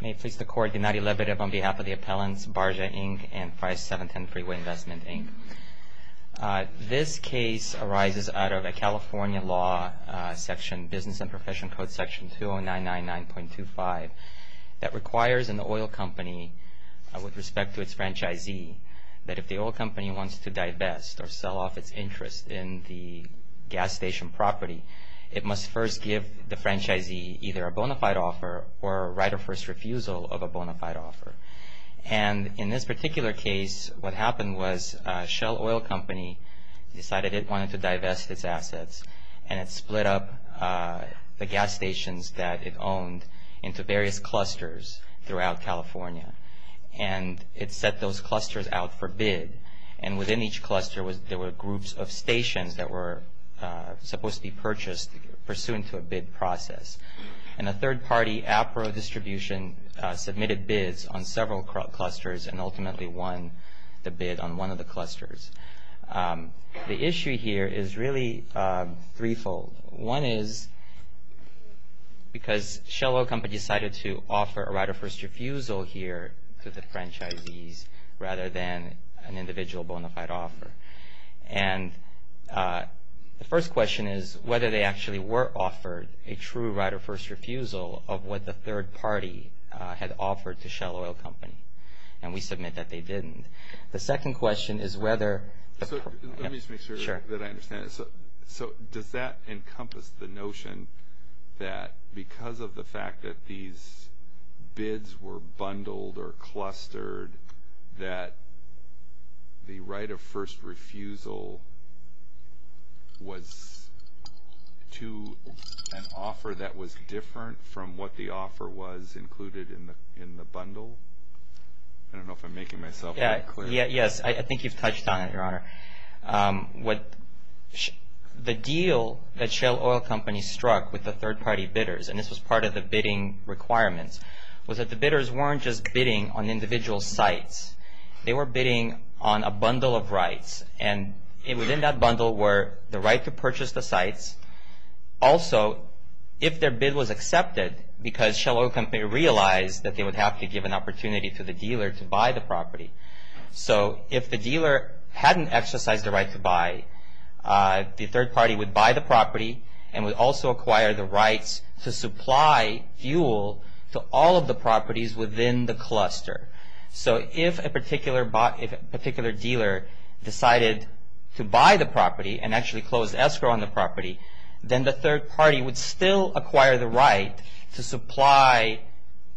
May it please the Court, the 9-11 on behalf of the appellants, Barja Inc. and 5710 Freeway Investment, Inc. This case arises out of a California law section, Business and Profession Code Section 2099.25, that requires an oil company, with respect to its franchisee, that if the oil company wants to divest or sell off its interest in the gas station property, it must first give the franchisee either a bona fide offer or a right of first refusal of a bona fide offer. And in this particular case, what happened was Shell Oil Company decided it wanted to divest its assets and it split up the gas stations that it owned into various clusters throughout California. And it set those clusters out for bid. And within each cluster, there were groups of stations that were supposed to be purchased pursuant to a bid process. And a third party, APRO Distribution, submitted bids on several clusters and ultimately won the bid on one of the clusters. The issue here is really threefold. One is because Shell Oil Company decided to offer a right of first refusal here to the franchisees rather than an individual bona fide offer. And the first question is whether they actually were offered a true right of first refusal of what the third party had offered to Shell Oil Company. And we submit that they didn't. The second question is whether... Let me just make sure that I understand. So does that encompass the notion that because of the fact that these bids were bundled or clustered, that the right of first refusal was to an offer that was different from what the offer was included in the bundle? I don't know if I'm making myself clear. Yes, I think you've touched on it, Your Honor. The deal that Shell Oil Company struck with the third party bidders, and this was part of the bidding requirements, was that the bidders weren't just bidding on individual sites. They were bidding on a bundle of rights. And within that bundle were the right to purchase the sites. Also, if their bid was accepted, because Shell Oil Company realized that they would have to give an opportunity to the dealer to buy the property. So if the dealer hadn't exercised the right to buy, the third party would buy the property and would also acquire the rights to supply fuel to all of the properties within the cluster. So if a particular dealer decided to buy the property and actually closed escrow on the property, then the third party would still acquire the right to supply,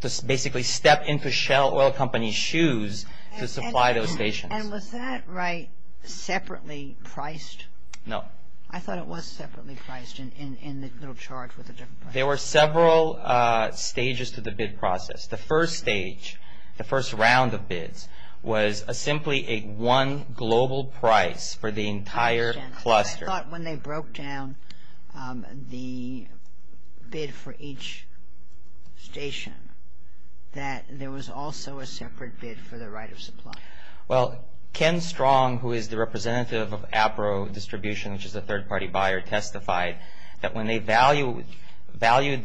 to basically step into Shell Oil Company's shoes to supply those stations. And was that right separately priced? No. I thought it was separately priced in the charge with a different price. There were several stages to the bid process. The first stage, the first round of bids, was simply a one global price for the entire cluster. I thought when they broke down the bid for each station that there was also a separate bid for the right of supply. Well, Ken Strong, who is the representative of Apro Distribution, which is a third party buyer, testified that when they valued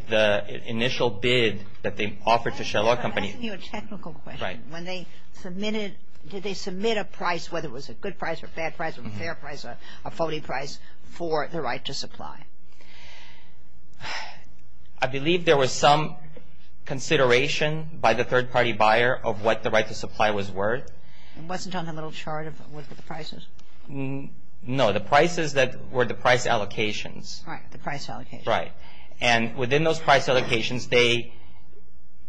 the initial bid that they offered to Shell Oil Company. I have to ask you a technical question. Right. When they submitted, did they submit a price, whether it was a good price or a bad price or a fair price, a phony price for the right to supply? I believe there was some consideration by the third party buyer of what the right to supply was worth. It wasn't on the little chart with the prices? No. The prices that were the price allocations. Right. The price allocations. Right. And within those price allocations, they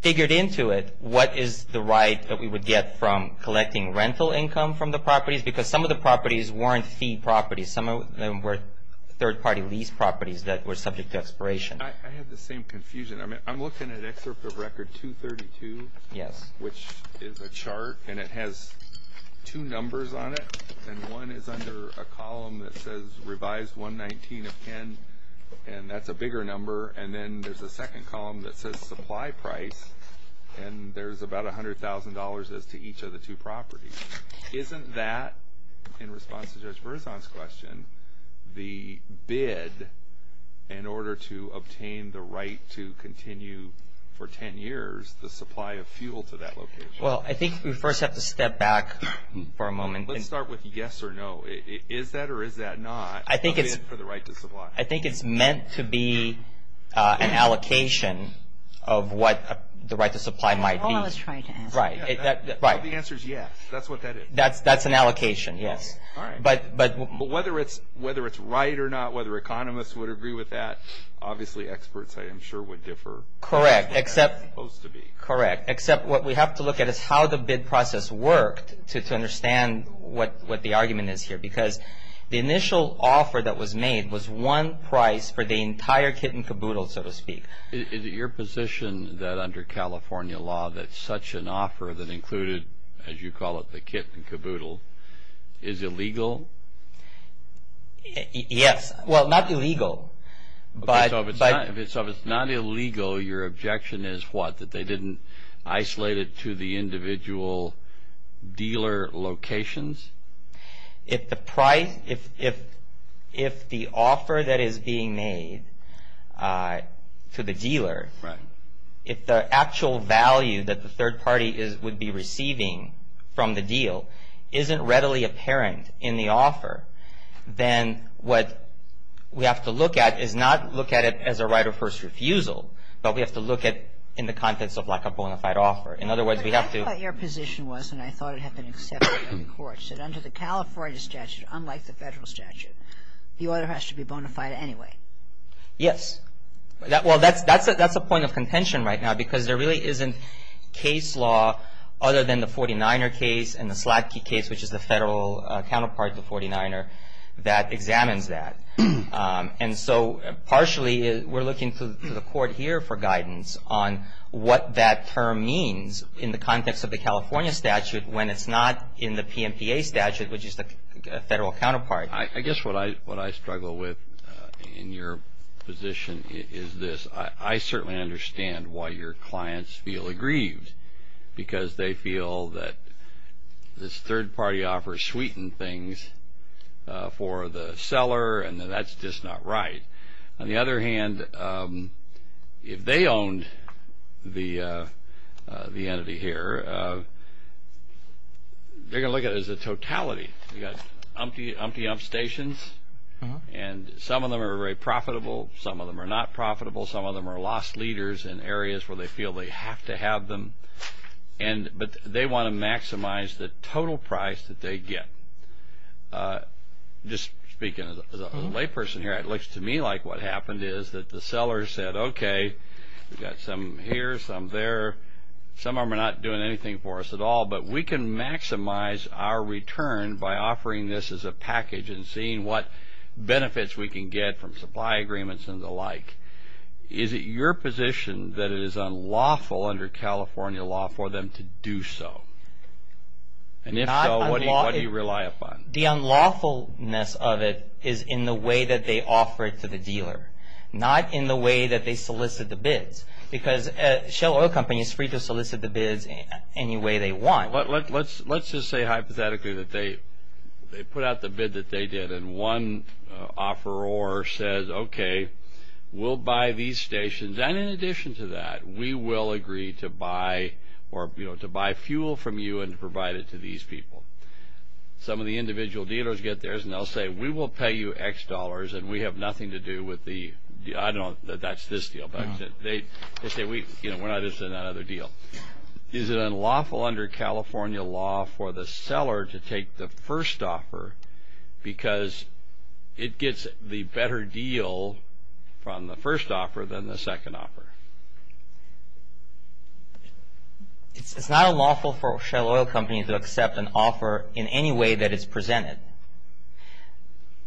figured into it what is the right that we would get from collecting rental income from the properties because some of the properties weren't fee properties. Some of them were third party lease properties that were subject to expiration. I have the same confusion. I'm looking at Excerpt of Record 232. Yes. Which is a chart, and it has two numbers on it. And one is under a column that says revised 119 of Ken, and that's a bigger number. And then there's a second column that says supply price, and there's about $100,000 as to each of the two properties. Isn't that, in response to Judge Berzon's question, the bid in order to obtain the right to continue for 10 years, the supply of fuel to that location? Well, I think we first have to step back for a moment. Let's start with yes or no. Is that or is that not a bid for the right to supply? I think it's meant to be an allocation of what the right to supply might be. That's what I was trying to ask. Right. The answer is yes. That's what that is. That's an allocation, yes. All right. But whether it's right or not, whether economists would agree with that, obviously experts, I am sure, would differ. Correct. Except what we have to look at is how the bid process worked to understand what the argument is here. Because the initial offer that was made was one price for the entire kit and caboodle, so to speak. Is it your position that under California law that such an offer that included, as you call it, the kit and caboodle, is illegal? Yes. Well, not illegal. So if it's not illegal, your objection is what? That they didn't isolate it to the individual dealer locations? If the price, if the offer that is being made to the dealer, if the actual value that the third party would be receiving from the deal isn't readily apparent in the offer, then what we have to look at is not look at it as a right of first refusal, but we have to look at it in the context of like a bona fide offer. In other words, we have to But I thought your position was, and I thought it had been accepted by the court, that under the California statute, unlike the federal statute, the order has to be bona fide anyway. Yes. Well, that's a point of contention right now, because there really isn't case law other than the 49er case and the Sladky case, which is the federal counterpart to 49er, that examines that. And so partially we're looking to the court here for guidance on what that term means in the context of the California statute when it's not in the PMPA statute, which is the federal counterpart. I guess what I struggle with in your position is this. I certainly understand why your clients feel aggrieved, because they feel that this third-party offer sweetened things for the seller and that that's just not right. On the other hand, if they owned the entity here, they're going to look at it as a totality. You've got empty upstations, and some of them are very profitable. Some of them are not profitable. Some of them are lost leaders in areas where they feel they have to have them. But they want to maximize the total price that they get. Just speaking as a layperson here, it looks to me like what happened is that the seller said, okay, we've got some here, some there. Some of them are not doing anything for us at all, but we can maximize our return by offering this as a package and seeing what benefits we can get from supply agreements and the like. Is it your position that it is unlawful under California law for them to do so? And if so, what do you rely upon? The unlawfulness of it is in the way that they offer it to the dealer, not in the way that they solicit the bids, because Shell Oil Company is free to solicit the bids any way they want. Let's just say hypothetically that they put out the bid that they did, and one offeror says, okay, we'll buy these stations. And in addition to that, we will agree to buy fuel from you and provide it to these people. Some of the individual dealers get theirs, and they'll say, we will pay you X dollars, and we have nothing to do with the – I don't know that that's this deal, but they say, we're not interested in that other deal. Is it unlawful under California law for the seller to take the first offer because it gets the better deal from the first offer than the second offer? It's not unlawful for Shell Oil Company to accept an offer in any way that it's presented.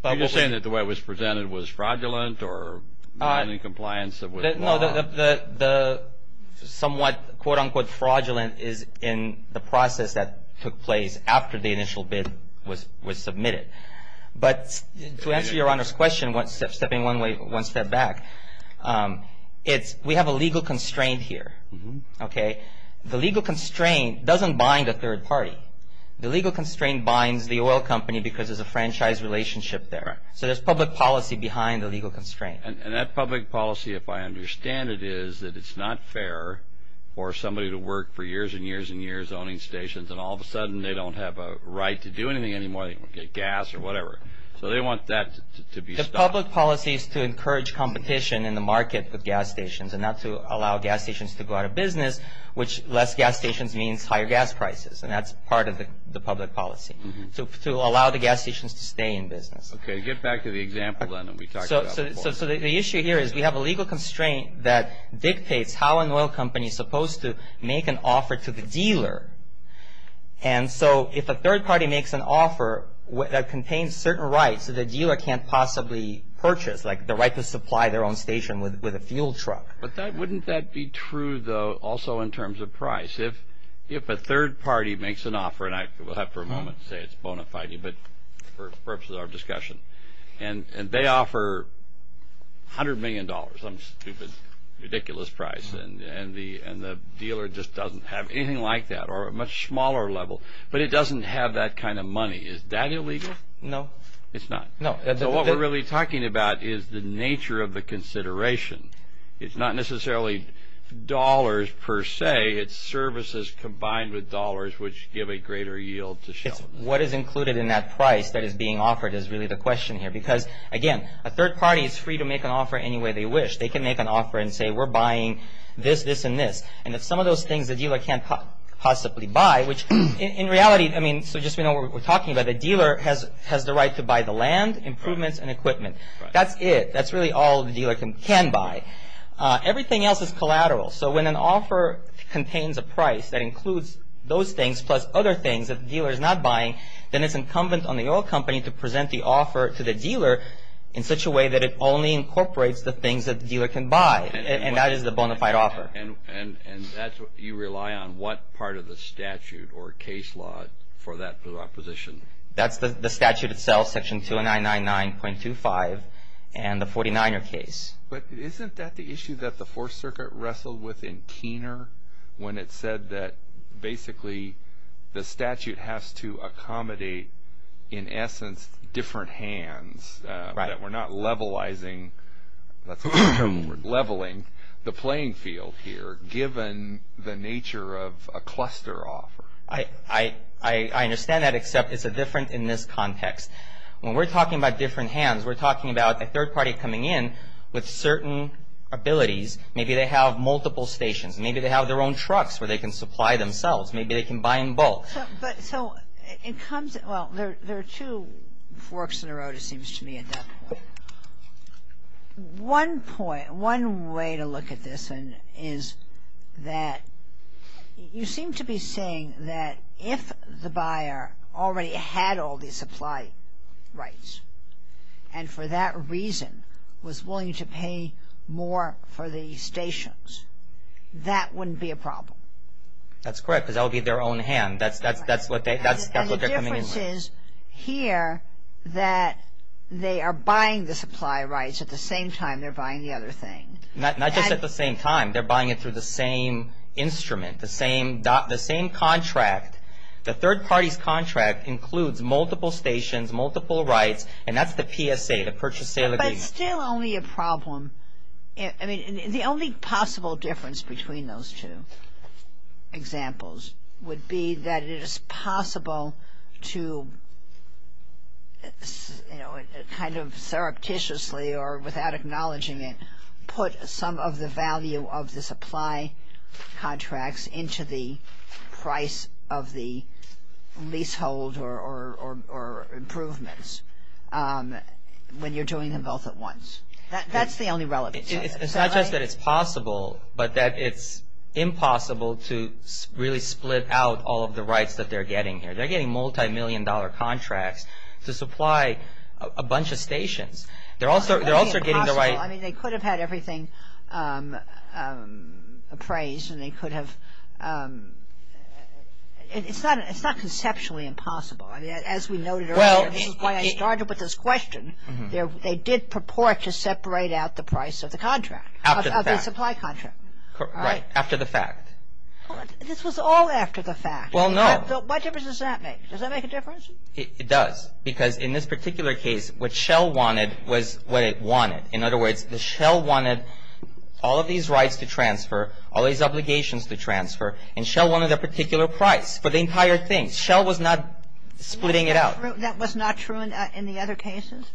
Are you saying that the way it was presented was fraudulent or not in compliance with the law? No, the somewhat quote-unquote fraudulent is in the process that took place after the initial bid was submitted. But to answer Your Honor's question, stepping one step back, we have a legal constraint here. The legal constraint doesn't bind a third party. The legal constraint binds the oil company because there's a franchise relationship there. So there's public policy behind the legal constraint. And that public policy, if I understand it, is that it's not fair for somebody to work for years and years and years owning stations, and all of a sudden they don't have a right to do anything anymore. They don't get gas or whatever. So they want that to be stopped. The public policy is to encourage competition in the market with gas stations and not to allow gas stations to go out of business, which less gas stations means higher gas prices, and that's part of the public policy, to allow the gas stations to stay in business. Okay, get back to the example then that we talked about before. So the issue here is we have a legal constraint that dictates how an oil company is supposed to make an offer to the dealer. And so if a third party makes an offer that contains certain rights that the dealer can't possibly purchase, like the right to supply their own station with a fuel truck. But wouldn't that be true, though, also in terms of price? If a third party makes an offer, and I will have for a moment to say it's bona fide, but for purposes of our discussion, and they offer $100 million, some stupid, ridiculous price, and the dealer just doesn't have anything like that or a much smaller level, but it doesn't have that kind of money. Is that illegal? No. It's not? No. So what we're really talking about is the nature of the consideration. It's not necessarily dollars per se. It's services combined with dollars, which give a greater yield to shareholders. What is included in that price that is being offered is really the question here because, again, a third party is free to make an offer any way they wish. They can make an offer and say we're buying this, this, and this. And if some of those things the dealer can't possibly buy, which in reality, I mean, so just we know what we're talking about. The dealer has the right to buy the land, improvements, and equipment. That's it. That's really all the dealer can buy. Everything else is collateral. So when an offer contains a price that includes those things plus other things that the dealer is not buying, then it's incumbent on the oil company to present the offer to the dealer in such a way that it only incorporates the things that the dealer can buy, and that is the bona fide offer. And you rely on what part of the statute or case law for that position? That's the statute itself, Section 2999.25 and the 49er case. But isn't that the issue that the Fourth Circuit wrestled with in Keener when it said that, basically, the statute has to accommodate, in essence, different hands. Right. We're not levelizing, leveling the playing field here given the nature of a cluster offer. I understand that except it's different in this context. When we're talking about different hands, we're talking about a third party coming in with certain abilities. Maybe they have multiple stations. Maybe they have their own trucks where they can supply themselves. Maybe they can buy in bulk. So it comes – well, there are two forks in the road, it seems to me, at that point. One way to look at this is that you seem to be saying that if the buyer already had all the supply rights and for that reason was willing to pay more for the stations, that wouldn't be a problem. That's correct because that would be their own hand. That's what they're coming in with. This is here that they are buying the supply rights at the same time they're buying the other thing. Not just at the same time. They're buying it through the same instrument, the same contract. The third party's contract includes multiple stations, multiple rights, and that's the PSA, the purchase-sale agreement. But it's still only a problem. The only possible difference between those two examples would be that it is possible to, kind of surreptitiously or without acknowledging it, put some of the value of the supply contracts into the price of the leasehold or improvements when you're doing them both at once. That's the only relevance. It's not just that it's possible, but that it's impossible to really split out all of the rights that they're getting here. They're getting multimillion-dollar contracts to supply a bunch of stations. They're also getting the right. I mean, they could have had everything appraised and they could have. It's not conceptually impossible. I mean, as we noted earlier, this is why I started with this question. I mean, they did purport to separate out the price of the contract, of the supply contract. After the fact. Right. After the fact. This was all after the fact. Well, no. What difference does that make? Does that make a difference? It does. Because in this particular case, what Shell wanted was what it wanted. In other words, Shell wanted all of these rights to transfer, all these obligations to transfer, and Shell wanted a particular price for the entire thing. Shell was not splitting it out. That was not true in the other cases?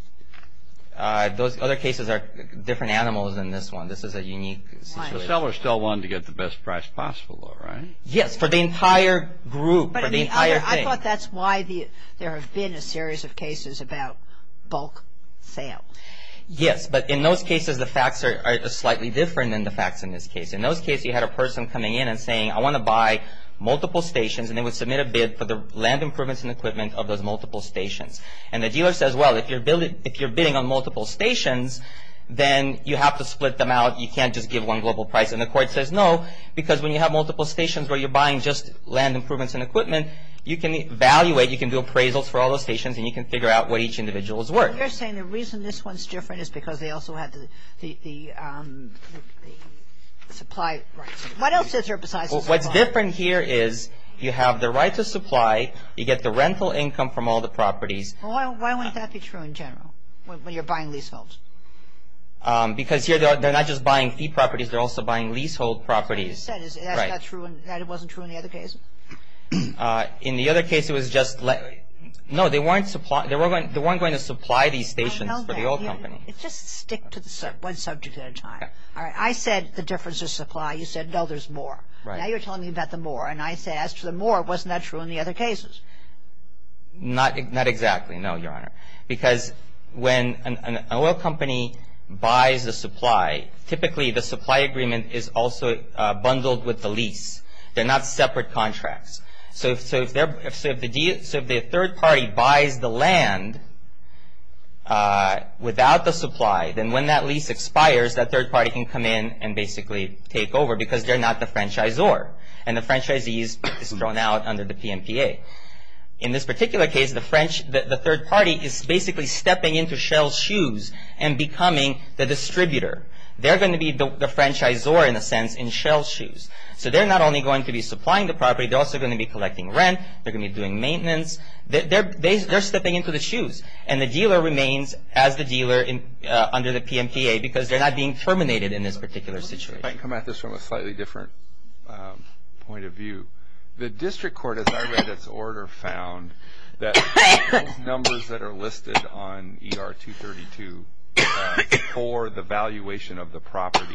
Those other cases are different animals than this one. This is a unique situation. So Shell still wanted to get the best price possible, right? Yes, for the entire group, for the entire thing. I thought that's why there have been a series of cases about bulk sale. Yes, but in those cases, the facts are slightly different than the facts in this case. In those cases, you had a person coming in and saying, I want to buy multiple stations, and they would submit a bid for the land improvements and equipment of those multiple stations. And the dealer says, well, if you're bidding on multiple stations, then you have to split them out. You can't just give one global price. And the court says no, because when you have multiple stations where you're buying just land improvements and equipment, you can evaluate, you can do appraisals for all those stations, and you can figure out what each individual's worth. You're saying the reason this one's different is because they also had the supply rights. What else is there besides the supply? What's different here is you have the right to supply. You get the rental income from all the properties. Well, why wouldn't that be true in general when you're buying leaseholds? Because here they're not just buying fee properties. They're also buying leasehold properties. What you said is that it wasn't true in the other case? In the other case, it was just let – no, they weren't going to supply these stations for the old company. Just stick to one subject at a time. I said the difference is supply. You said, no, there's more. Right. Now you're telling me about the more. And I say, as to the more, wasn't that true in the other cases? Not exactly, no, Your Honor, because when an oil company buys a supply, typically the supply agreement is also bundled with the lease. They're not separate contracts. So if the third party buys the land without the supply, then when that lease expires, that third party can come in and basically take over because they're not the franchisor and the franchisee is thrown out under the PMPA. In this particular case, the third party is basically stepping into Shell's shoes and becoming the distributor. They're going to be the franchisor, in a sense, in Shell's shoes. So they're not only going to be supplying the property. They're also going to be collecting rent. They're going to be doing maintenance. They're stepping into the shoes, and the dealer remains as the dealer under the PMPA because they're not being terminated in this particular situation. If I can come at this from a slightly different point of view. The district court, as I read its order, found that those numbers that are listed on ER 232 for the valuation of the property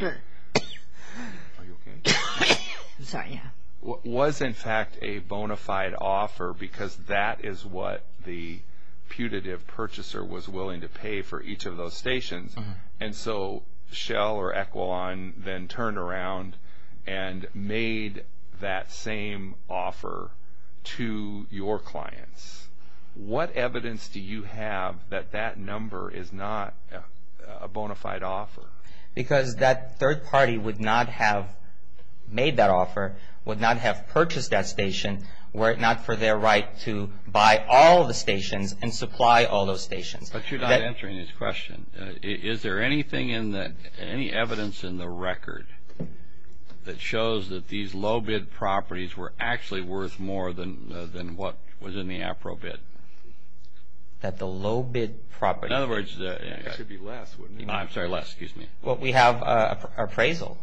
was, in fact, a bona fide offer because that is what the putative purchaser was willing to pay for each of those stations. And so Shell or Equaline then turned around and made that same offer to your clients. What evidence do you have that that number is not a bona fide offer? Because that third party would not have made that offer, would not have purchased that station, were it not for their right to buy all the stations and supply all those stations. But you're not answering this question. Is there any evidence in the record that shows that these low-bid properties were actually worth more than what was in the appropriate? That the low-bid property? In other words, it should be less, wouldn't it? I'm sorry, less. Excuse me. Well, we have appraisal.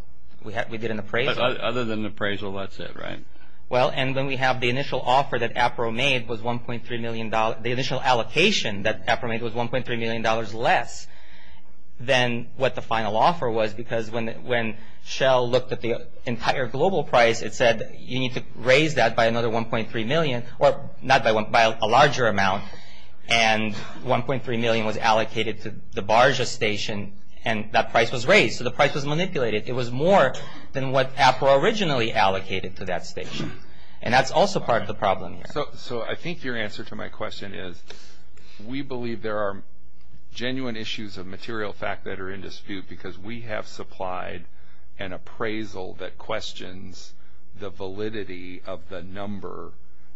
We did an appraisal. But other than appraisal, that's it, right? Well, and when we have the initial offer that APRO made was $1.3 million, the initial allocation that APRO made was $1.3 million less than what the final offer was because when Shell looked at the entire global price, it said you need to raise that by another 1.3 million, or not by 1, by a larger amount. And 1.3 million was allocated to the Barja station and that price was raised. So the price was manipulated. It was more than what APRO originally allocated to that station. And that's also part of the problem here. So I think your answer to my question is, we believe there are genuine issues of material fact that are in dispute because we have supplied an appraisal that questions the validity of the number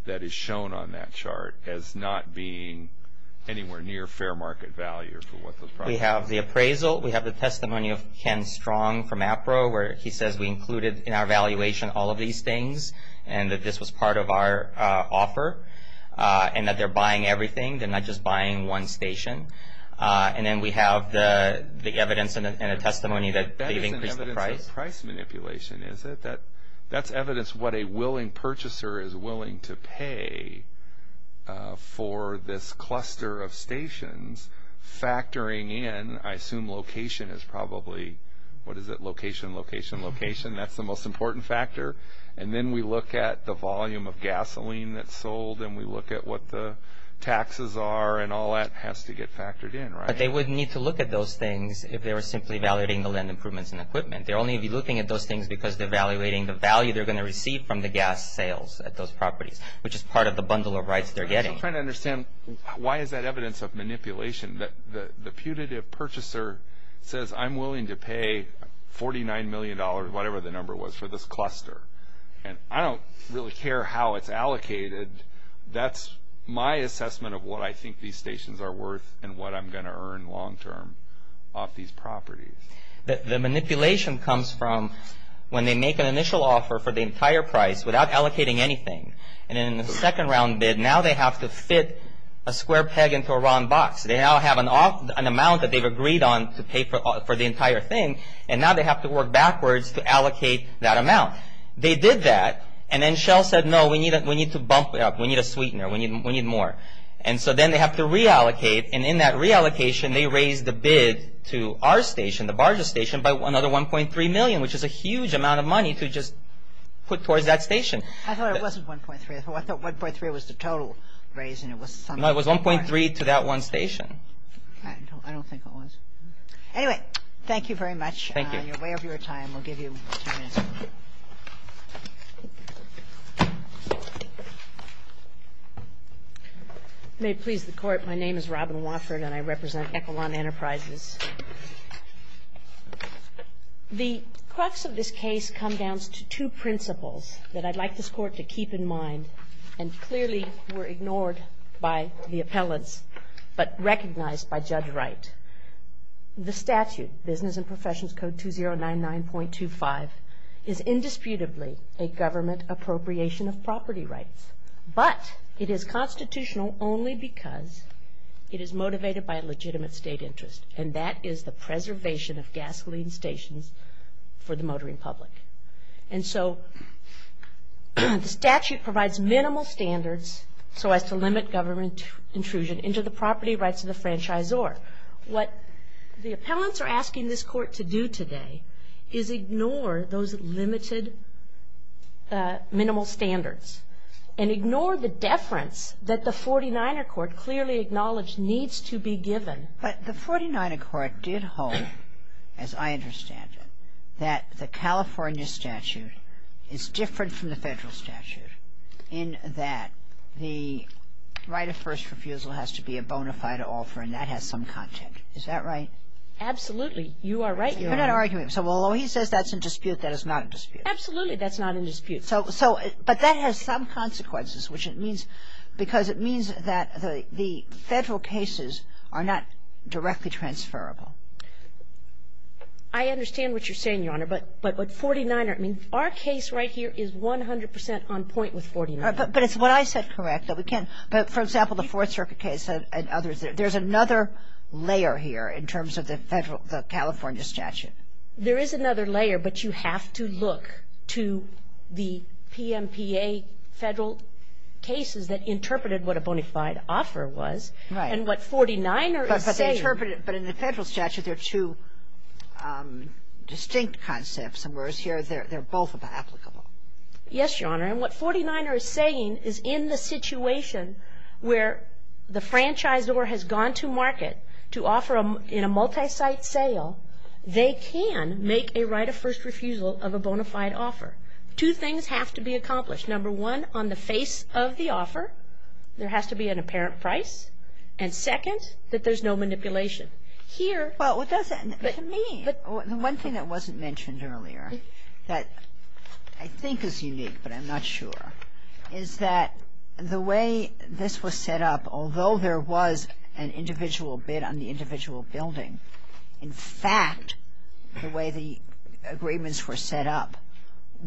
that is shown on that chart as not being anywhere near fair market value. We have the appraisal. We have the testimony of Ken Strong from APRO where he says we included in our valuation all of these things and that this was part of our offer and that they're buying everything. They're not just buying one station. And then we have the evidence and a testimony that they've increased the price. That isn't evidence of price manipulation, is it? That's evidence what a willing purchaser is willing to pay for this cluster of stations factoring in, I assume location is probably, what is it, location, location, location. That's the most important factor. And then we look at the volume of gasoline that's sold and we look at what the taxes are and all that has to get factored in, right? But they would need to look at those things if they were simply evaluating the land improvements and equipment. They only need to be looking at those things because they're evaluating the value they're going to receive from the gas sales at those properties, which is part of the bundle of rights they're getting. I'm just trying to understand why is that evidence of manipulation? The putative purchaser says I'm willing to pay $49 million, whatever the number was, for this cluster. And I don't really care how it's allocated. That's my assessment of what I think these stations are worth and what I'm going to earn long term off these properties. The manipulation comes from when they make an initial offer for the entire price without allocating anything. And in the second round bid, now they have to fit a square peg into a wrong box. They now have an amount that they've agreed on to pay for the entire thing and now they have to work backwards to allocate that amount. They did that and then Shell said no, we need to bump it up. We need a sweetener. We need more. And so then they have to reallocate. And in that reallocation, they raised the bid to our station, the Barges station, by another $1.3 million, which is a huge amount of money to just put towards that station. I thought it wasn't $1.3. I thought $1.3 was the total raise. No, it was $1.3 to that one station. I don't think it was. Anyway, thank you very much. Thank you. On your way of your time, we'll give you two minutes. May it please the Court. My name is Robin Wofford and I represent Ecolon Enterprises. The crux of this case comes down to two principles that I'd like this Court to keep in mind and clearly were ignored by the appellants but recognized by Judge Wright. The statute, Business and Professions Code 2099.25, is indisputably a government appropriation of property rights, but it is constitutional only because it is motivated by a legitimate state interest, and that is the preservation of gasoline stations for the motoring public. And so the statute provides minimal standards so as to limit government intrusion into the property rights of the franchisor. What the appellants are asking this Court to do today is ignore those limited minimal standards and ignore the deference that the 49er Court clearly acknowledged needs to be given. But the 49er Court did hold, as I understand it, that the California statute is different from the federal statute in that the right of first refusal has to be a bona fide offer and that has some content. Is that right? Absolutely. You are right. You're not arguing. So although he says that's in dispute, that is not in dispute. Absolutely that's not in dispute. But that has some consequences, which it means because it means that the federal cases are not directly transferable. I understand what you're saying, Your Honor. But 49er, I mean, our case right here is 100 percent on point with 49er. But it's what I said, correct, that we can't. But, for example, the Fourth Circuit case and others, there's another layer here in terms of the California statute. There is another layer, but you have to look to the PMPA federal cases that interpreted what a bona fide offer was. Right. And what 49er is saying. But they interpreted it. But in the federal statute, there are two distinct concepts, whereas here they're both applicable. Yes, Your Honor. And what 49er is saying is in the situation where the franchisor has gone to market to offer in a multi-site sale, they can make a right of first refusal of a bona fide offer. Two things have to be accomplished. Number one, on the face of the offer, there has to be an apparent price. And second, that there's no manipulation. Here to me, the one thing that wasn't mentioned earlier that I think is unique, but I'm not sure, is that the way this was set up, although there was an individual bid on the individual building, in fact, the way the agreements were set up,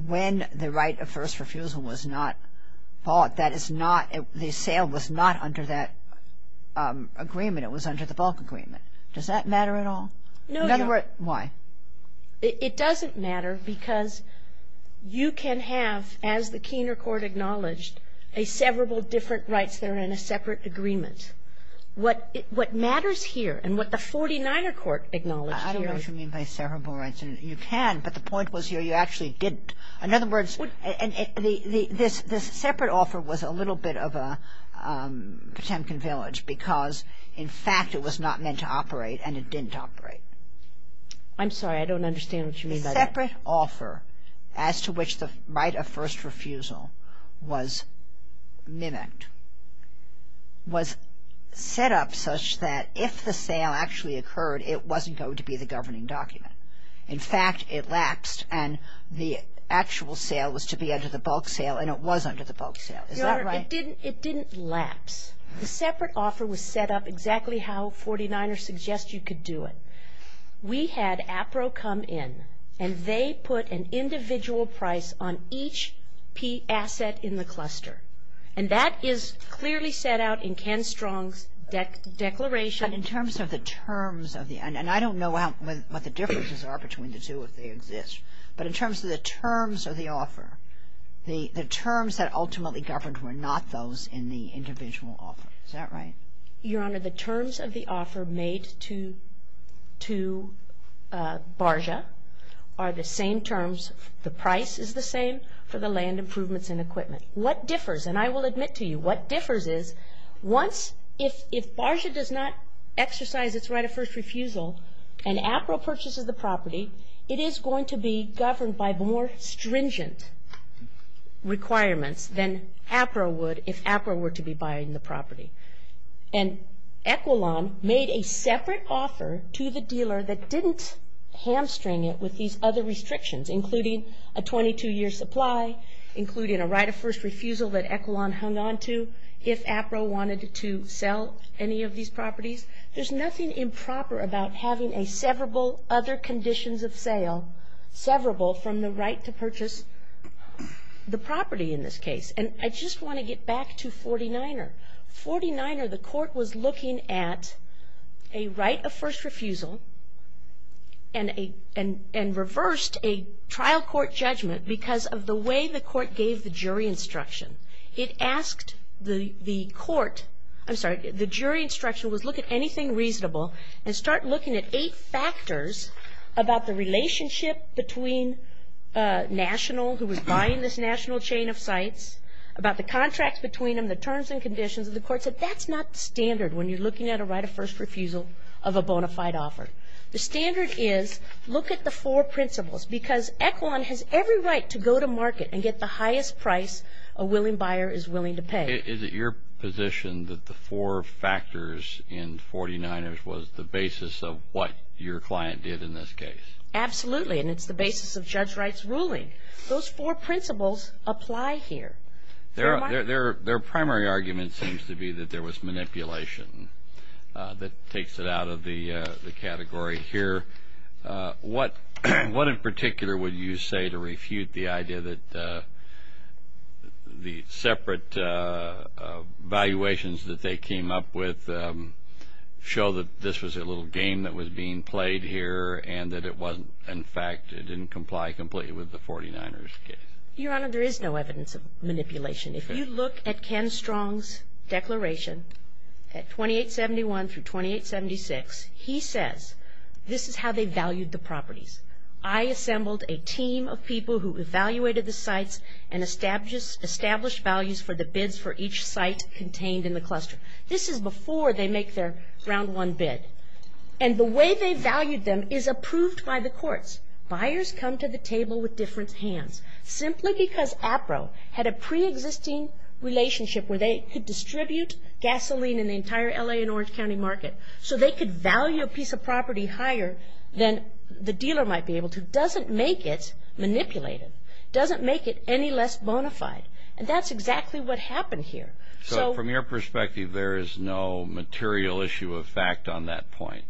when the right of first refusal was not bought, that is not the sale was not under that agreement. It was under the bulk agreement. Does that matter at all? No, Your Honor. In other words, why? It doesn't matter because you can have, as the Keener Court acknowledged, a several different rights that are in a separate agreement. What matters here and what the 49er Court acknowledged here is- I don't know if you mean by several rights. You can, but the point was here you actually didn't. In other words, this separate offer was a little bit of a Potemkin village because, in fact, it was not meant to operate and it didn't operate. I'm sorry. I don't understand what you mean by that. The separate offer as to which the right of first refusal was mimicked, was set up such that if the sale actually occurred, it wasn't going to be the governing document. In fact, it lapsed and the actual sale was to be under the bulk sale and it was under the bulk sale. Is that right? Your Honor, it didn't lapse. The separate offer was set up exactly how 49ers suggest you could do it. In other words, we had APRO come in and they put an individual price on each P asset in the cluster. And that is clearly set out in Ken Strong's declaration. But in terms of the terms of the end, and I don't know what the differences are between the two if they exist, but in terms of the terms of the offer, the terms that ultimately governed were not those in the individual offer. Is that right? Your Honor, the terms of the offer made to BARJA are the same terms. The price is the same for the land improvements and equipment. What differs, and I will admit to you, what differs is if BARJA does not exercise its right of first refusal and APRO purchases the property, it is going to be governed by more stringent requirements than APRO would if APRO were to be buying the property. And EQUILAN made a separate offer to the dealer that didn't hamstring it with these other restrictions, including a 22-year supply, including a right of first refusal that EQUILAN hung on to if APRO wanted to sell any of these properties. There's nothing improper about having a severable other conditions of sale, severable from the right to purchase the property in this case. And I just want to get back to 49er. 49er, the court was looking at a right of first refusal and reversed a trial court judgment because of the way the court gave the jury instruction. It asked the court, I'm sorry, the jury instruction was look at anything reasonable and start looking at eight factors about the relationship between national, who was buying this national chain of sites, about the contracts between them, the terms and conditions, and the court said that's not standard when you're looking at a right of first refusal of a bona fide offer. The standard is look at the four principles because EQUILAN has every right to go to market and get the highest price a willing buyer is willing to pay. Is it your position that the four factors in 49er was the basis of what your client did in this case? Absolutely, and it's the basis of Judge Wright's ruling. Those four principles apply here. Their primary argument seems to be that there was manipulation that takes it out of the category here. What in particular would you say to refute the idea that the separate valuations that they came up with show that this was a little game that was being played here and that it wasn't, in fact, it didn't comply completely with the 49er's case? Your Honor, there is no evidence of manipulation. If you look at Ken Strong's declaration at 2871 through 2876, he says this is how they valued the properties. I assembled a team of people who evaluated the sites and established values for the bids for each site contained in the cluster. This is before they make their round one bid. And the way they valued them is approved by the courts. Buyers come to the table with different hands. Simply because APRO had a preexisting relationship where they could distribute gasoline in the entire L.A. and Orange County market so they could value a piece of property higher than the dealer might be able to doesn't make it manipulative, doesn't make it any less bona fide. And that's exactly what happened here. So from your perspective, there is no material issue of fact on that point?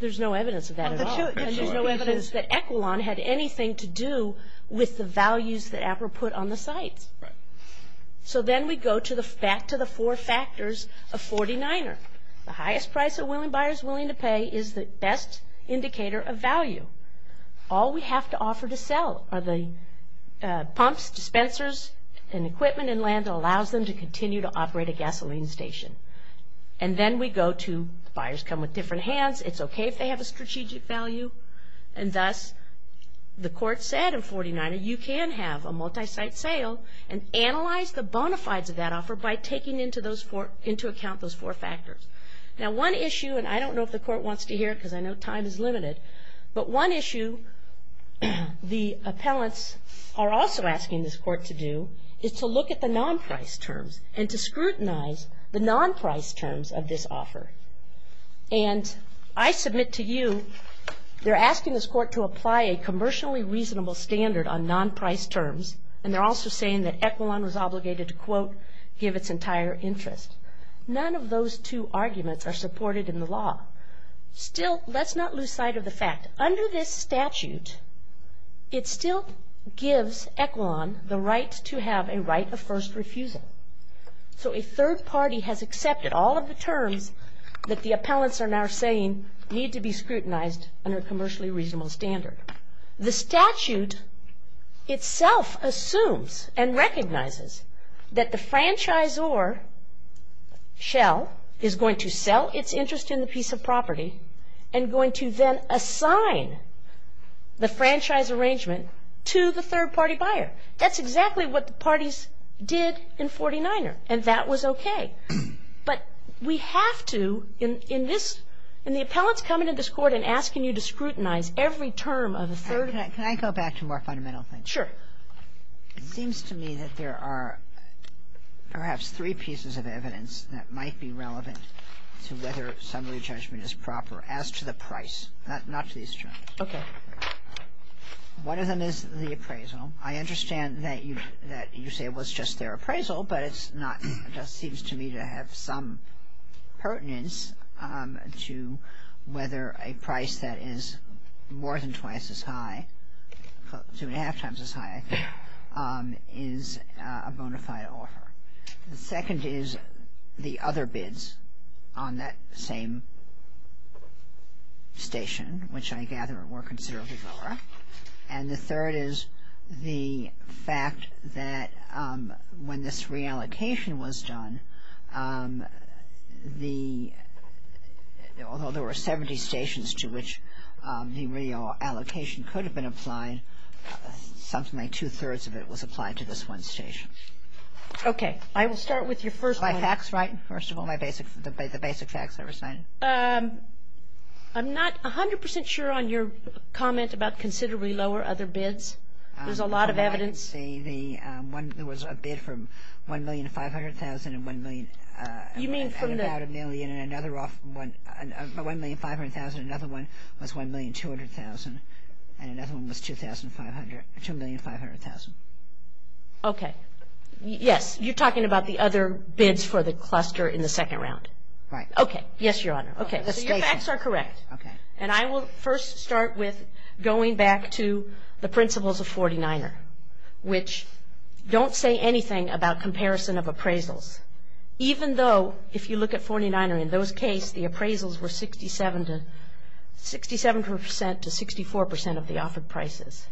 There's no evidence of that at all. There's no evidence that Equilon had anything to do with the values that APRO put on the sites. So then we go back to the four factors of 49er. The highest price a buyer is willing to pay is the best indicator of value. All we have to offer to sell are the pumps, dispensers, and equipment and land which allows them to continue to operate a gasoline station. And then we go to buyers come with different hands. It's okay if they have a strategic value. And thus the court said in 49er you can have a multi-site sale and analyze the bona fides of that offer by taking into account those four factors. Now one issue, and I don't know if the court wants to hear it because I know time is limited, but one issue the appellants are also asking this court to do is to look at the non-price terms and to scrutinize the non-price terms of this offer. And I submit to you they're asking this court to apply a commercially reasonable standard on non-price terms, and they're also saying that Equilon was obligated to, quote, give its entire interest. None of those two arguments are supported in the law. Still, let's not lose sight of the fact. Under this statute, it still gives Equilon the right to have a right of first refusal. So a third party has accepted all of the terms that the appellants are now saying need to be scrutinized under a commercially reasonable standard. The statute itself assumes and recognizes that the franchisor shell is going to sell its interest in the piece of property and going to then assign the franchise arrangement to the third party buyer. That's exactly what the parties did in 49er, and that was okay. But we have to, in this, in the appellants coming to this court and asking you to scrutinize every term of a third party. Kagan. Can I go back to more fundamental things? Sure. It seems to me that there are perhaps three pieces of evidence that might be relevant to whether summary judgment is proper as to the price, not to these terms. Okay. One of them is the appraisal. I understand that you say it was just their appraisal, but it's not. It just seems to me to have some pertinence to whether a price that is more than twice as high, two and a half times as high, is a bona fide offer. The second is the other bids on that same station, which I gather were considerably lower. And the third is the fact that when this reallocation was done, although there were 70 stations to which the reallocation could have been applied, something like two-thirds of it was applied to this one station. Okay. I will start with your first one. Are my facts right, first of all, the basic facts I've recited? I'm not 100 percent sure on your comment about considerably lower other bids. There's a lot of evidence. From what I can see, there was a bid from $1,500,000 and $1,000,000 and about $1,000,000. And another one, $1,500,000, another one was $1,200,000, and another one was $2,500,000. Okay. Yes. You're talking about the other bids for the cluster in the second round? Right. Okay. Yes, Your Honor. Okay. So your facts are correct. Okay. And I will first start with going back to the principles of 49er, which don't say anything about comparison of appraisals, even though if you look at 49er, in those cases, the appraisals were 67 to 64 percent of the offered prices.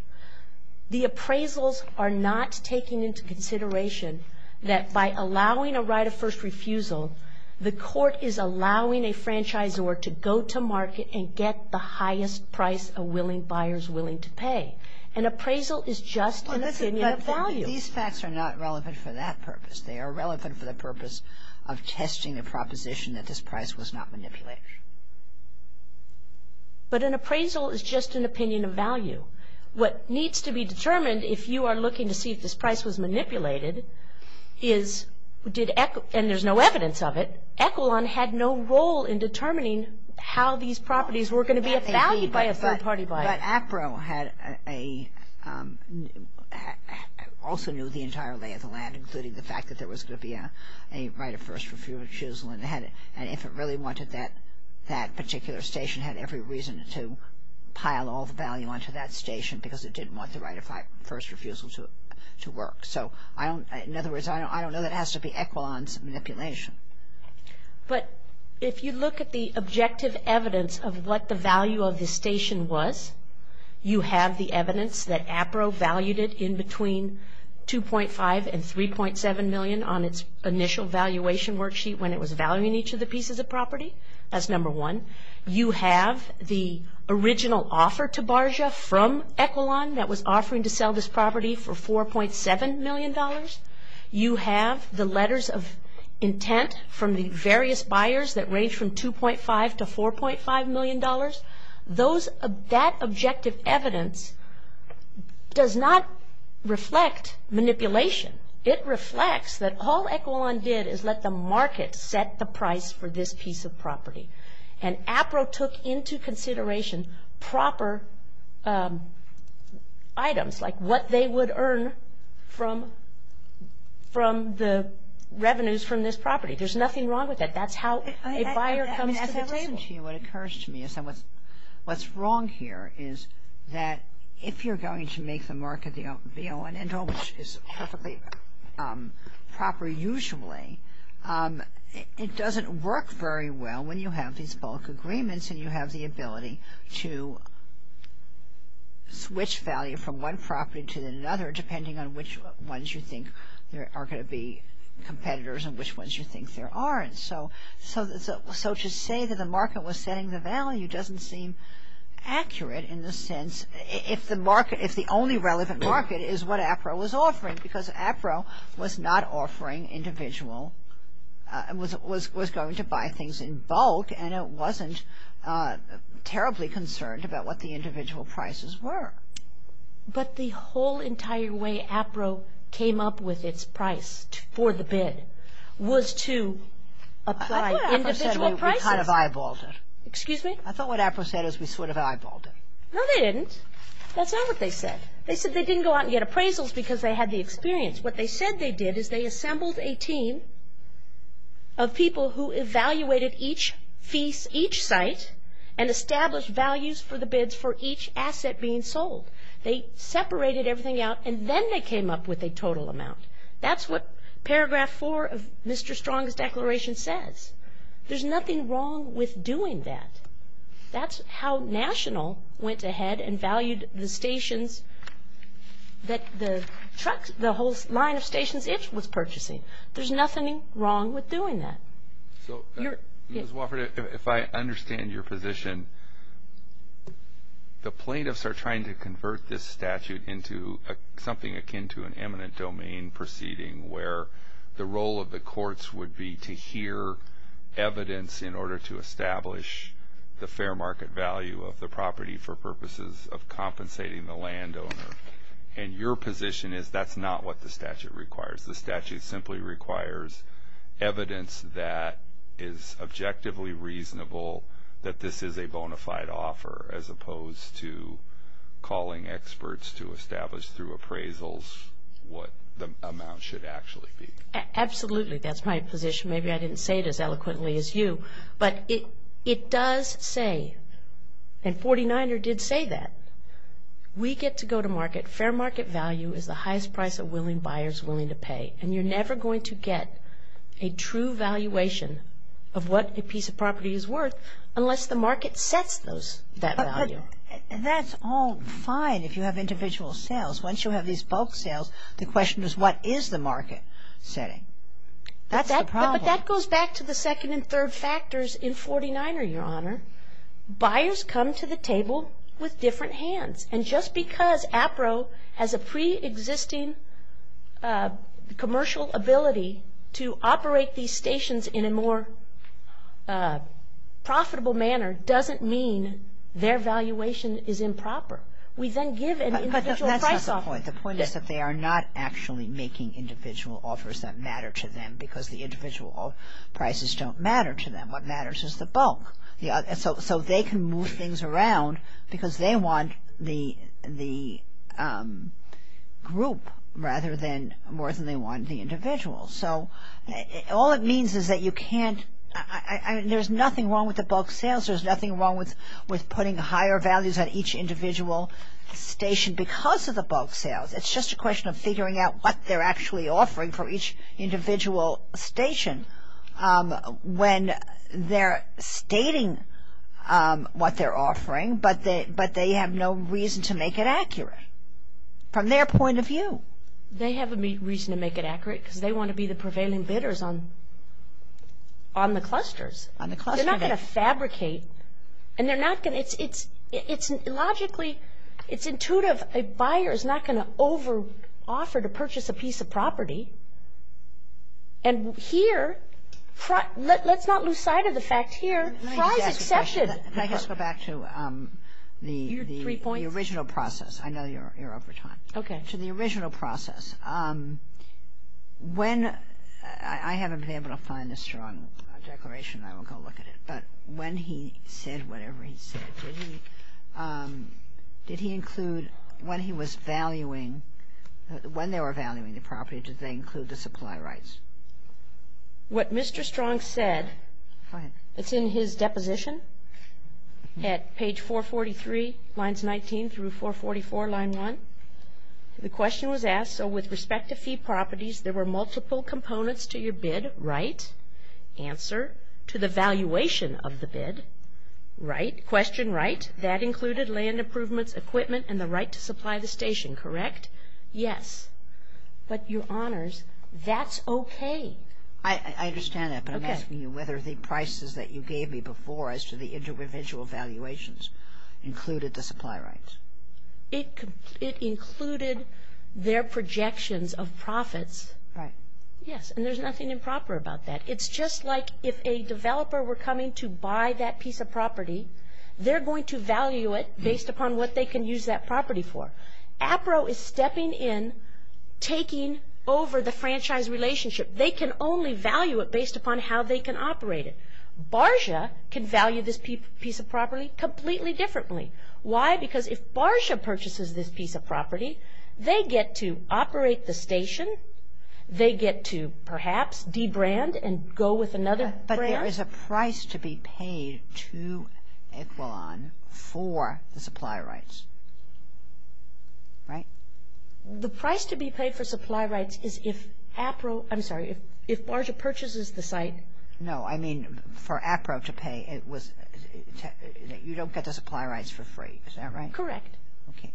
The appraisals are not taking into consideration that by allowing a right of first refusal, the court is allowing a franchisor to go to market and get the highest price a willing buyer is willing to pay. An appraisal is just an opinion of value. These facts are not relevant for that purpose. They are relevant for the purpose of testing a proposition that this price was not manipulated. But an appraisal is just an opinion of value. What needs to be determined if you are looking to see if this price was manipulated is, and there's no evidence of it, Echelon had no role in determining how these properties were going to be valued by a third-party buyer. But APRO also knew the entire lay of the land, including the fact that there was going to be a right of first refusal, and if it really wanted that particular station, it had every reason to pile all the value onto that station because it didn't want the right of first refusal to work. So in other words, I don't know that it has to be Echelon's manipulation. But if you look at the objective evidence of what the value of this station was, you have the evidence that APRO valued it in between $2.5 and $3.7 million on its initial valuation worksheet when it was valuing each of the pieces of property. That's number one. You have the original offer to Bargia from Echelon that was offering to sell this property for $4.7 million. You have the letters of intent from the various buyers that range from $2.5 to $4.5 million. That objective evidence does not reflect manipulation. It reflects that all Echelon did is let the market set the price for this piece of property. And APRO took into consideration proper items, like what they would earn from the revenues from this property. There's nothing wrong with that. That's how a buyer comes to the table. What occurs to me is that what's wrong here is that if you're going to make the market, you know, which is perfectly proper usually, it doesn't work very well when you have these bulk agreements and you have the ability to switch value from one property to another depending on which ones you think are going to be competitors and which ones you think there aren't. So to say that the market was setting the value doesn't seem accurate in the sense if the only relevant market is what APRO was offering because APRO was not offering individual, was going to buy things in bulk, and it wasn't terribly concerned about what the individual prices were. But the whole entire way APRO came up with its price for the bid was to apply individual prices. I thought APRO said we kind of eyeballed it. Excuse me? I thought what APRO said is we sort of eyeballed it. No, they didn't. That's not what they said. They said they didn't go out and get appraisals because they had the experience. What they said they did is they assembled a team of people who evaluated each site and established values for the bids for each asset being sold. They separated everything out, and then they came up with a total amount. That's what Paragraph 4 of Mr. Strong's Declaration says. There's nothing wrong with doing that. That's how National went ahead and valued the stations that the truck, the whole line of stations it was purchasing. There's nothing wrong with doing that. Ms. Wofford, if I understand your position, the plaintiffs are trying to convert this statute into something akin to an eminent domain proceeding where the role of the courts would be to hear evidence in order to establish the fair market value of the property for purposes of compensating the landowner. And your position is that's not what the statute requires. The statute simply requires evidence that is objectively reasonable that this is a bona fide offer as opposed to calling experts to establish through appraisals what the amount should actually be. Absolutely. That's my position. Maybe I didn't say it as eloquently as you. But it does say, and 49er did say that, we get to go to market. Fair market value is the highest price a willing buyer is willing to pay. And you're never going to get a true valuation of what a piece of property is worth unless the market sets that value. That's all fine if you have individual sales. Once you have these bulk sales, the question is what is the market setting? That's the problem. But that goes back to the second and third factors in 49er, Your Honor. Buyers come to the table with different hands. And just because APRO has a preexisting commercial ability to operate these stations in a more profitable manner doesn't mean their valuation is improper. We then give an individual price offer. But that's not the point. The point is that they are not actually making individual offers that matter to them because the individual prices don't matter to them. What matters is the bulk. So they can move things around because they want the group rather than more than they want the individual. So all it means is that you can't – there's nothing wrong with the bulk sales. There's nothing wrong with putting higher values on each individual station because of the bulk sales. It's just a question of figuring out what they're actually offering for each individual station. When they're stating what they're offering but they have no reason to make it accurate from their point of view. They have a reason to make it accurate because they want to be the prevailing bidders on the clusters. They're not going to fabricate. And they're not going to – it's logically – it's intuitive. A buyer is not going to over-offer to purchase a piece of property. And here – let's not lose sight of the fact here. Fries accepted. Let me just ask a question. Let me just go back to the original process. Your three points? I know you're over time. Okay. To the original process. When – I haven't been able to find the strong declaration. I will go look at it. But when he said whatever he said, did he include when he was valuing – did he include the supply rights? What Mr. Strong said – Go ahead. It's in his deposition at page 443, lines 19 through 444, line 1. The question was asked, so with respect to fee properties, there were multiple components to your bid, right? Answer, to the valuation of the bid, right? Question, right? That included land improvements, equipment, and the right to supply the station, correct? Yes. But, Your Honors, that's okay. I understand that. Okay. But I'm asking you whether the prices that you gave me before as to the individual valuations included the supply rights. It included their projections of profits. Right. Yes, and there's nothing improper about that. It's just like if a developer were coming to buy that piece of property, they're going to value it based upon what they can use that property for. APRO is stepping in, taking over the franchise relationship. They can only value it based upon how they can operate it. BARJA can value this piece of property completely differently. Why? Because if BARJA purchases this piece of property, they get to operate the station. They get to, perhaps, de-brand and go with another brand. There is a price to be paid to Equilon for the supply rights, right? The price to be paid for supply rights is if APRO, I'm sorry, if BARJA purchases the site. No, I mean for APRO to pay, you don't get the supply rights for free. Is that right? Correct. Okay.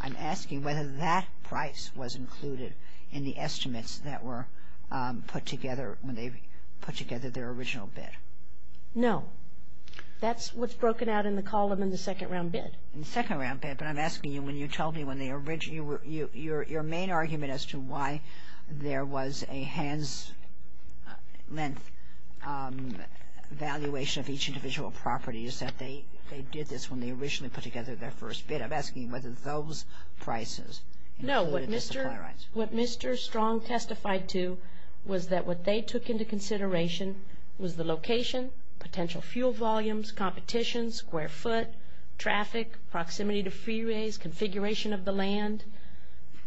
I'm asking whether that price was included in the estimates that were put together when they put together their original bid. No. That's what's broken out in the column in the second round bid. In the second round bid, but I'm asking you when you told me when the original, your main argument as to why there was a hands-length valuation of each individual property is that they did this when they originally put together their first bid. I'm asking whether those prices included the supply rights. What Mr. Strong testified to was that what they took into consideration was the location, potential fuel volumes, competition, square foot, traffic, proximity to freeways, configuration of the land,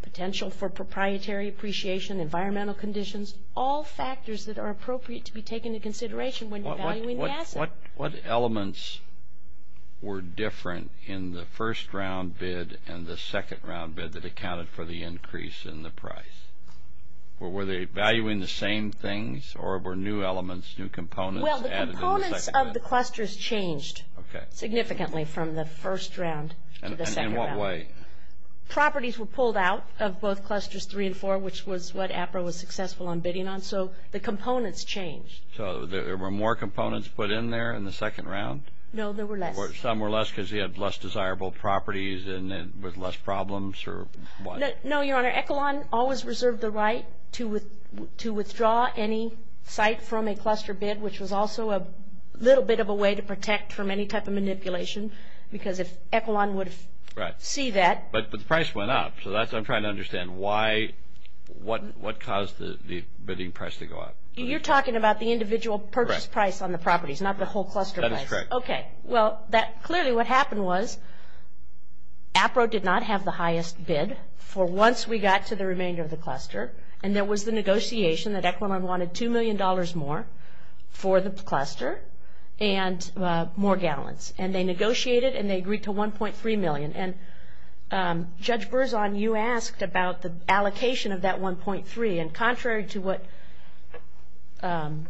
potential for proprietary appreciation, environmental conditions, all factors that are appropriate to be taken into consideration when evaluating the asset. What elements were different in the first round bid and the second round bid that accounted for the increase in the price? Were they valuing the same things or were new elements, new components added in the second round? Well, the components of the clusters changed significantly from the first round to the second round. In what way? Properties were pulled out of both clusters three and four, which was what APRA was successful on bidding on, so the components changed. So there were more components put in there in the second round? No, there were less. Some were less because they had less desirable properties and with less problems or what? No, Your Honor. Echelon always reserved the right to withdraw any site from a cluster bid, which was also a little bit of a way to protect from any type of manipulation because if Echelon would see that. But the price went up, so I'm trying to understand what caused the bidding price to go up. You're talking about the individual purchase price on the properties, not the whole cluster price. That is correct. Okay. Well, clearly what happened was APRA did not have the highest bid for once we got to the remainder of the cluster, and there was the negotiation that Echelon wanted $2 million more for the cluster and more gallons. And they negotiated and they agreed to $1.3 million. And Judge Berzon, you asked about the allocation of that $1.3 million. And contrary to what Mr.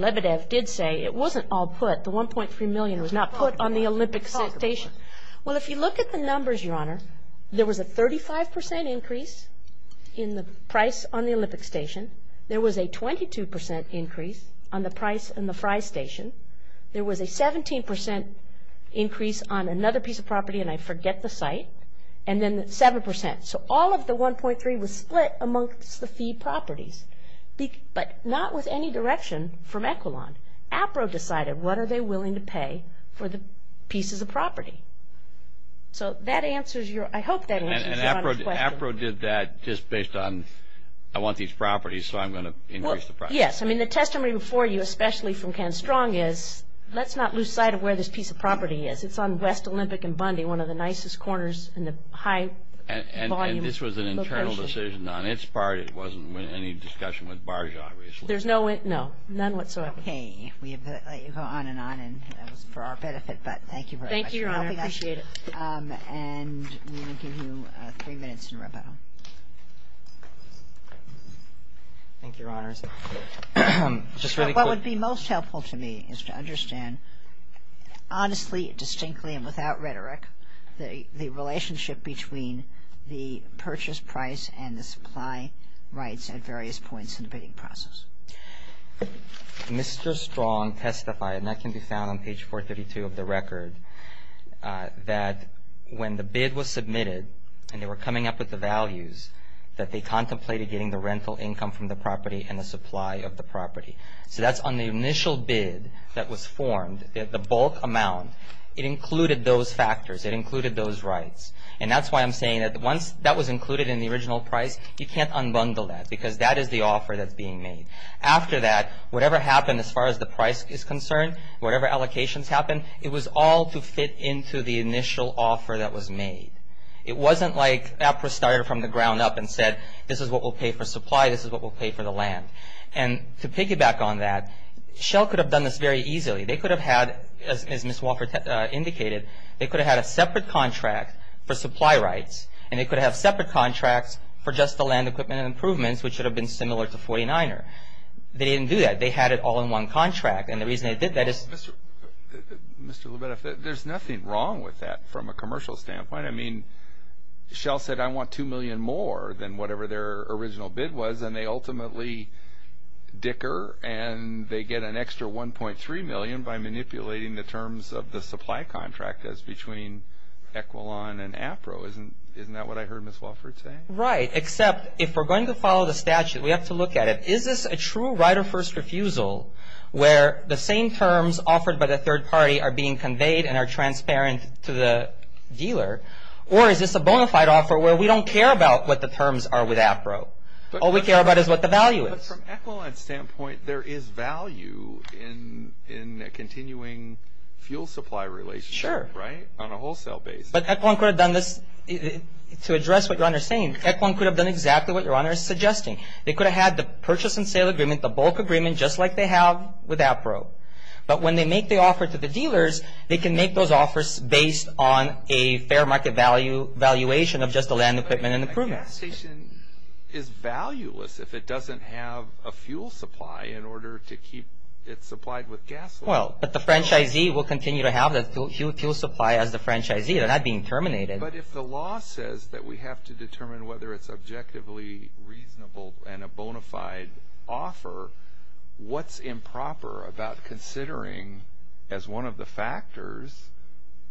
Lebedev did say, it wasn't all put. The $1.3 million was not put on the Olympic Station. Well, if you look at the numbers, Your Honor, there was a 35% increase in the price on the Olympic Station. There was a 22% increase on the price in the Fry Station. There was a 17% increase on another piece of property, and I forget the site, and then 7%. So all of the $1.3 was split amongst the fee properties, but not with any direction from Echelon. APRA decided what are they willing to pay for the pieces of property. So that answers your – I hope that answers Your Honor's question. And APRA did that just based on I want these properties, so I'm going to increase the price. Well, yes. I mean, the testimony before you, especially from Ken Strong, is let's not lose sight of where this piece of property is. It's on West Olympic and Bundy, one of the nicest corners in the high-volume location. And this was an internal decision on its part. It wasn't any discussion with Barge, obviously. There's no – no, none whatsoever. Okay. We have let you go on and on, and that was for our benefit, but thank you very much. Thank you, Your Honor. I appreciate it. Thank you, Your Honor. Just really quick. What would be most helpful to me is to understand honestly, distinctly, and without rhetoric, the relationship between the purchase price and the supply rights at various points in the bidding process. Mr. Strong testified, and that can be found on page 432 of the record, that when the bid was submitted and they were coming up with the values, that they contemplated getting the rental income from the property and the supply of the property. So that's on the initial bid that was formed, the bulk amount. It included those factors. It included those rights. And that's why I'm saying that once that was included in the original price, you can't unbundle that, because that is the offer that's being made. After that, whatever happened as far as the price is concerned, whatever allocations happened, it was all to fit into the initial offer that was made. It wasn't like APRA started from the ground up and said, this is what we'll pay for supply, this is what we'll pay for the land. And to piggyback on that, Shell could have done this very easily. They could have had, as Ms. Wofford indicated, they could have had a separate contract for supply rights, and they could have separate contracts for just the land equipment and improvements, which would have been similar to 49er. They didn't do that. They had it all in one contract. And the reason they did that is. Mr. Lubetov, there's nothing wrong with that from a commercial standpoint. I mean, Shell said, I want $2 million more than whatever their original bid was, and they ultimately dicker and they get an extra $1.3 million by manipulating the terms of the supply contract that's between Equilon and APRA. Isn't that what I heard Ms. Wofford say? Right, except if we're going to follow the statute, we have to look at it. Is this a true right of first refusal where the same terms offered by the third party are being conveyed and are transparent to the dealer? Or is this a bona fide offer where we don't care about what the terms are with APRA? All we care about is what the value is. But from Equilon's standpoint, there is value in a continuing fuel supply relationship, right? Sure. On a wholesale basis. But Equilon could have done this. To address what your Honor is saying, Equilon could have done exactly what your Honor is suggesting. They could have had the purchase and sale agreement, the bulk agreement, just like they have with APRA. But when they make the offer to the dealers, they can make those offers based on a fair market valuation of just the land equipment and improvements. But a gas station is valueless if it doesn't have a fuel supply in order to keep it supplied with gas. Well, but the franchisee will continue to have the fuel supply as the franchisee. They're not being terminated. But if the law says that we have to determine whether it's objectively reasonable and a bona fide offer, what's improper about considering, as one of the factors,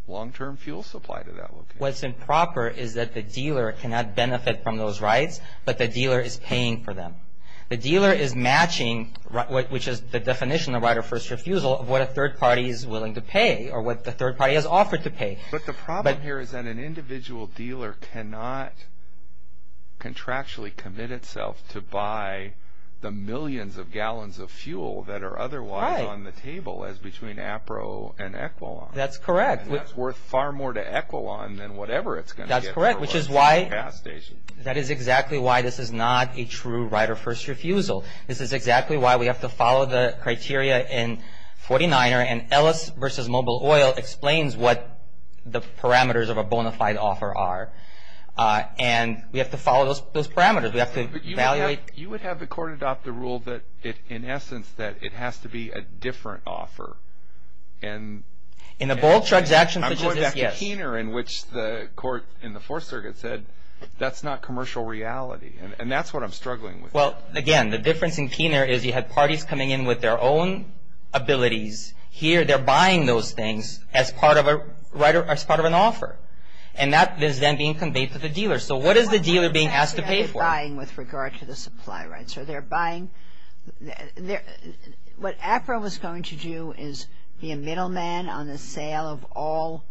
long-term fuel supply to that location? What's improper is that the dealer cannot benefit from those rights, but the dealer is paying for them. The dealer is matching, which is the definition of right of first refusal, of what a third party is willing to pay or what the third party has offered to pay. But the problem here is that an individual dealer cannot contractually commit itself to buy the millions of gallons of fuel that are otherwise on the table as between APRO and EQUILON. That's correct. And that's worth far more to EQUILON than whatever it's going to get for a gas station. That's correct, which is why this is not a true right of first refusal. This is exactly why we have to follow the criteria in 49er. And Ellis v. Mobile Oil explains what the parameters of a bona fide offer are. And we have to follow those parameters. We have to evaluate. But you would have the court adopt the rule that, in essence, that it has to be a different offer. In a bold transaction such as this, yes. I'm going back to Keener, in which the court in the Fourth Circuit said that's not commercial reality. And that's what I'm struggling with. Well, again, the difference in Keener is you have parties coming in with their own abilities. Here they're buying those things as part of an offer. And that is then being conveyed to the dealer. So what is the dealer being asked to pay for? Buying with regard to the supply rights. What APRO was going to do is be a middleman on the sale of all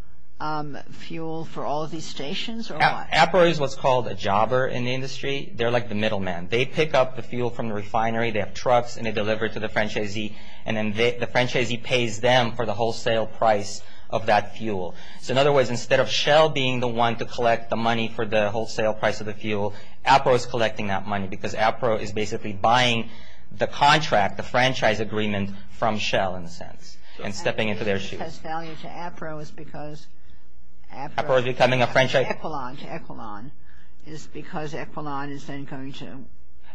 fuel for all of these stations? APRO is what's called a jobber in the industry. They're like the middleman. They pick up the fuel from the refinery. They have trucks and they deliver it to the franchisee. And then the franchisee pays them for the wholesale price of that fuel. So in other words, instead of Shell being the one to collect the money for the wholesale price of the fuel, APRO is collecting that money because APRO is basically buying the contract, the franchise agreement from Shell, in a sense, and stepping into their shoes. APRO is becoming a franchise? EQUILON to EQUILON is because EQUILON is then going to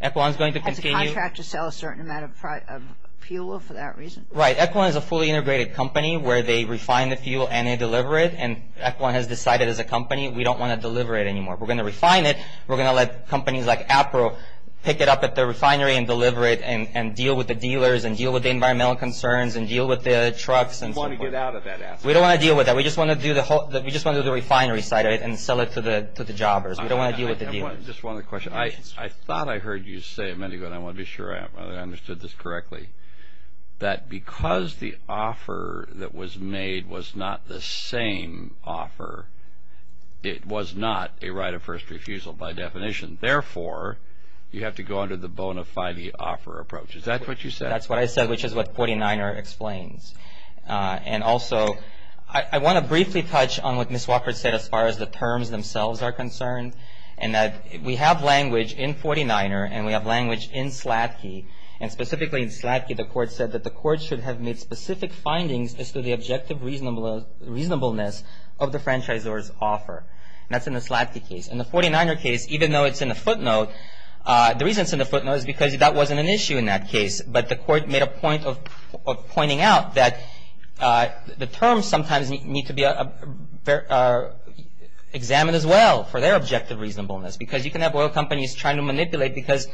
have to contract to sell a certain amount of fuel for that reason. Right. EQUILON is a fully integrated company where they refine the fuel and they deliver it. And EQUILON has decided as a company we don't want to deliver it anymore. We're going to refine it. We're going to let companies like APRO pick it up at the refinery and deliver it and deal with the dealers and deal with the environmental concerns and deal with the trucks. We don't want to get out of that aspect. We don't want to deal with that. We just want to do the refinery side of it and sell it to the jobbers. We don't want to deal with the dealers. Just one other question. I thought I heard you say a minute ago, and I want to be sure I understood this correctly, that because the offer that was made was not the same offer, it was not a right of first refusal by definition. Therefore, you have to go under the bona fide offer approach. Is that what you said? That's what I said, which is what 49er explains. And also, I want to briefly touch on what Ms. Walker said as far as the terms themselves are concerned, and that we have language in 49er and we have language in Slatke, and specifically in Slatke the court said that the court should have made specific findings as to the objective reasonableness of the franchisor's offer. That's in the Slatke case. In the 49er case, even though it's in the footnote, the reason it's in the footnote is because that wasn't an issue in that case, but the court made a point of pointing out that the terms sometimes need to be examined as well for their objective reasonableness because you can have oil companies trying to manipulate because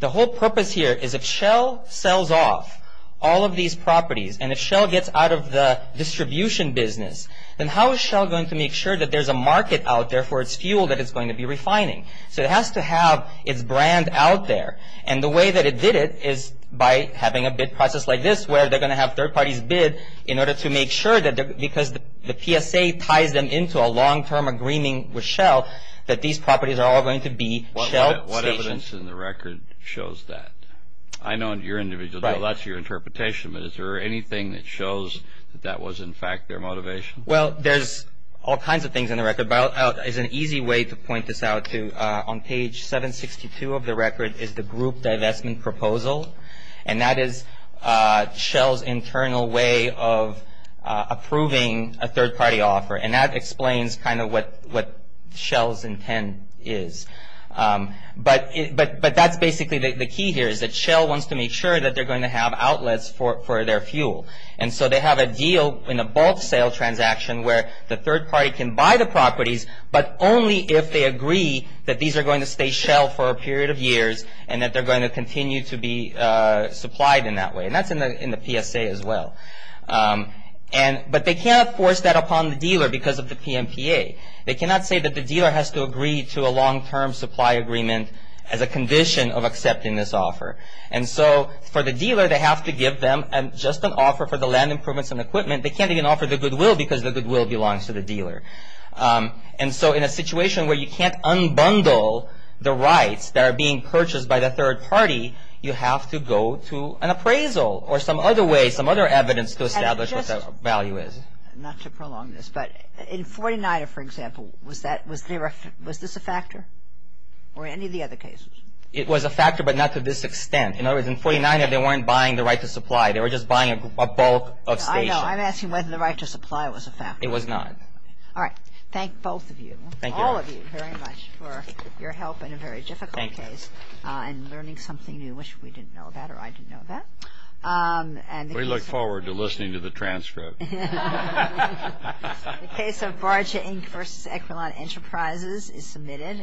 the whole purpose here is if Shell sells off all of these properties and if Shell gets out of the distribution business, then how is Shell going to make sure that there's a market out there for its fuel that it's going to be refining? So it has to have its brand out there, and the way that it did it is by having a bid process like this where they're going to have third parties bid in order to make sure that because the PSA ties them into a long-term agreement with Shell that these properties are all going to be Shell stations. What evidence in the record shows that? I know in your individual, that's your interpretation, but is there anything that shows that that was in fact their motivation? Well, there's all kinds of things in the record, but there's an easy way to point this out. On page 762 of the record is the group divestment proposal, and that is Shell's internal way of approving a third-party offer, and that explains kind of what Shell's intent is. But that's basically the key here is that Shell wants to make sure that they're going to have outlets for their fuel, and so they have a deal in a bulk sale transaction where the third party can buy the properties, but only if they agree that these are going to stay Shell for a period of years and that they're going to continue to be supplied in that way, and that's in the PSA as well. But they cannot force that upon the dealer because of the PMPA. They cannot say that the dealer has to agree to a long-term supply agreement as a condition of accepting this offer, and so for the dealer, they have to give them just an offer for the land improvements and equipment. They can't even offer the goodwill because the goodwill belongs to the dealer. And so in a situation where you can't unbundle the rights that are being purchased by the third party, you have to go to an appraisal or some other way, some other evidence to establish what that value is. Not to prolong this, but in 49er, for example, was this a factor or any of the other cases? It was a factor, but not to this extent. In other words, in 49er, they weren't buying the right to supply. They were just buying a bulk of station. I know. I'm asking whether the right to supply was a factor. It was not. All right. Thank both of you. Thank you. All of you very much for your help in a very difficult case. Thank you. And learning something new, which we didn't know about or I didn't know about. We look forward to listening to the transcript. The case of Barger, Inc. v. Equilan Enterprises is submitted.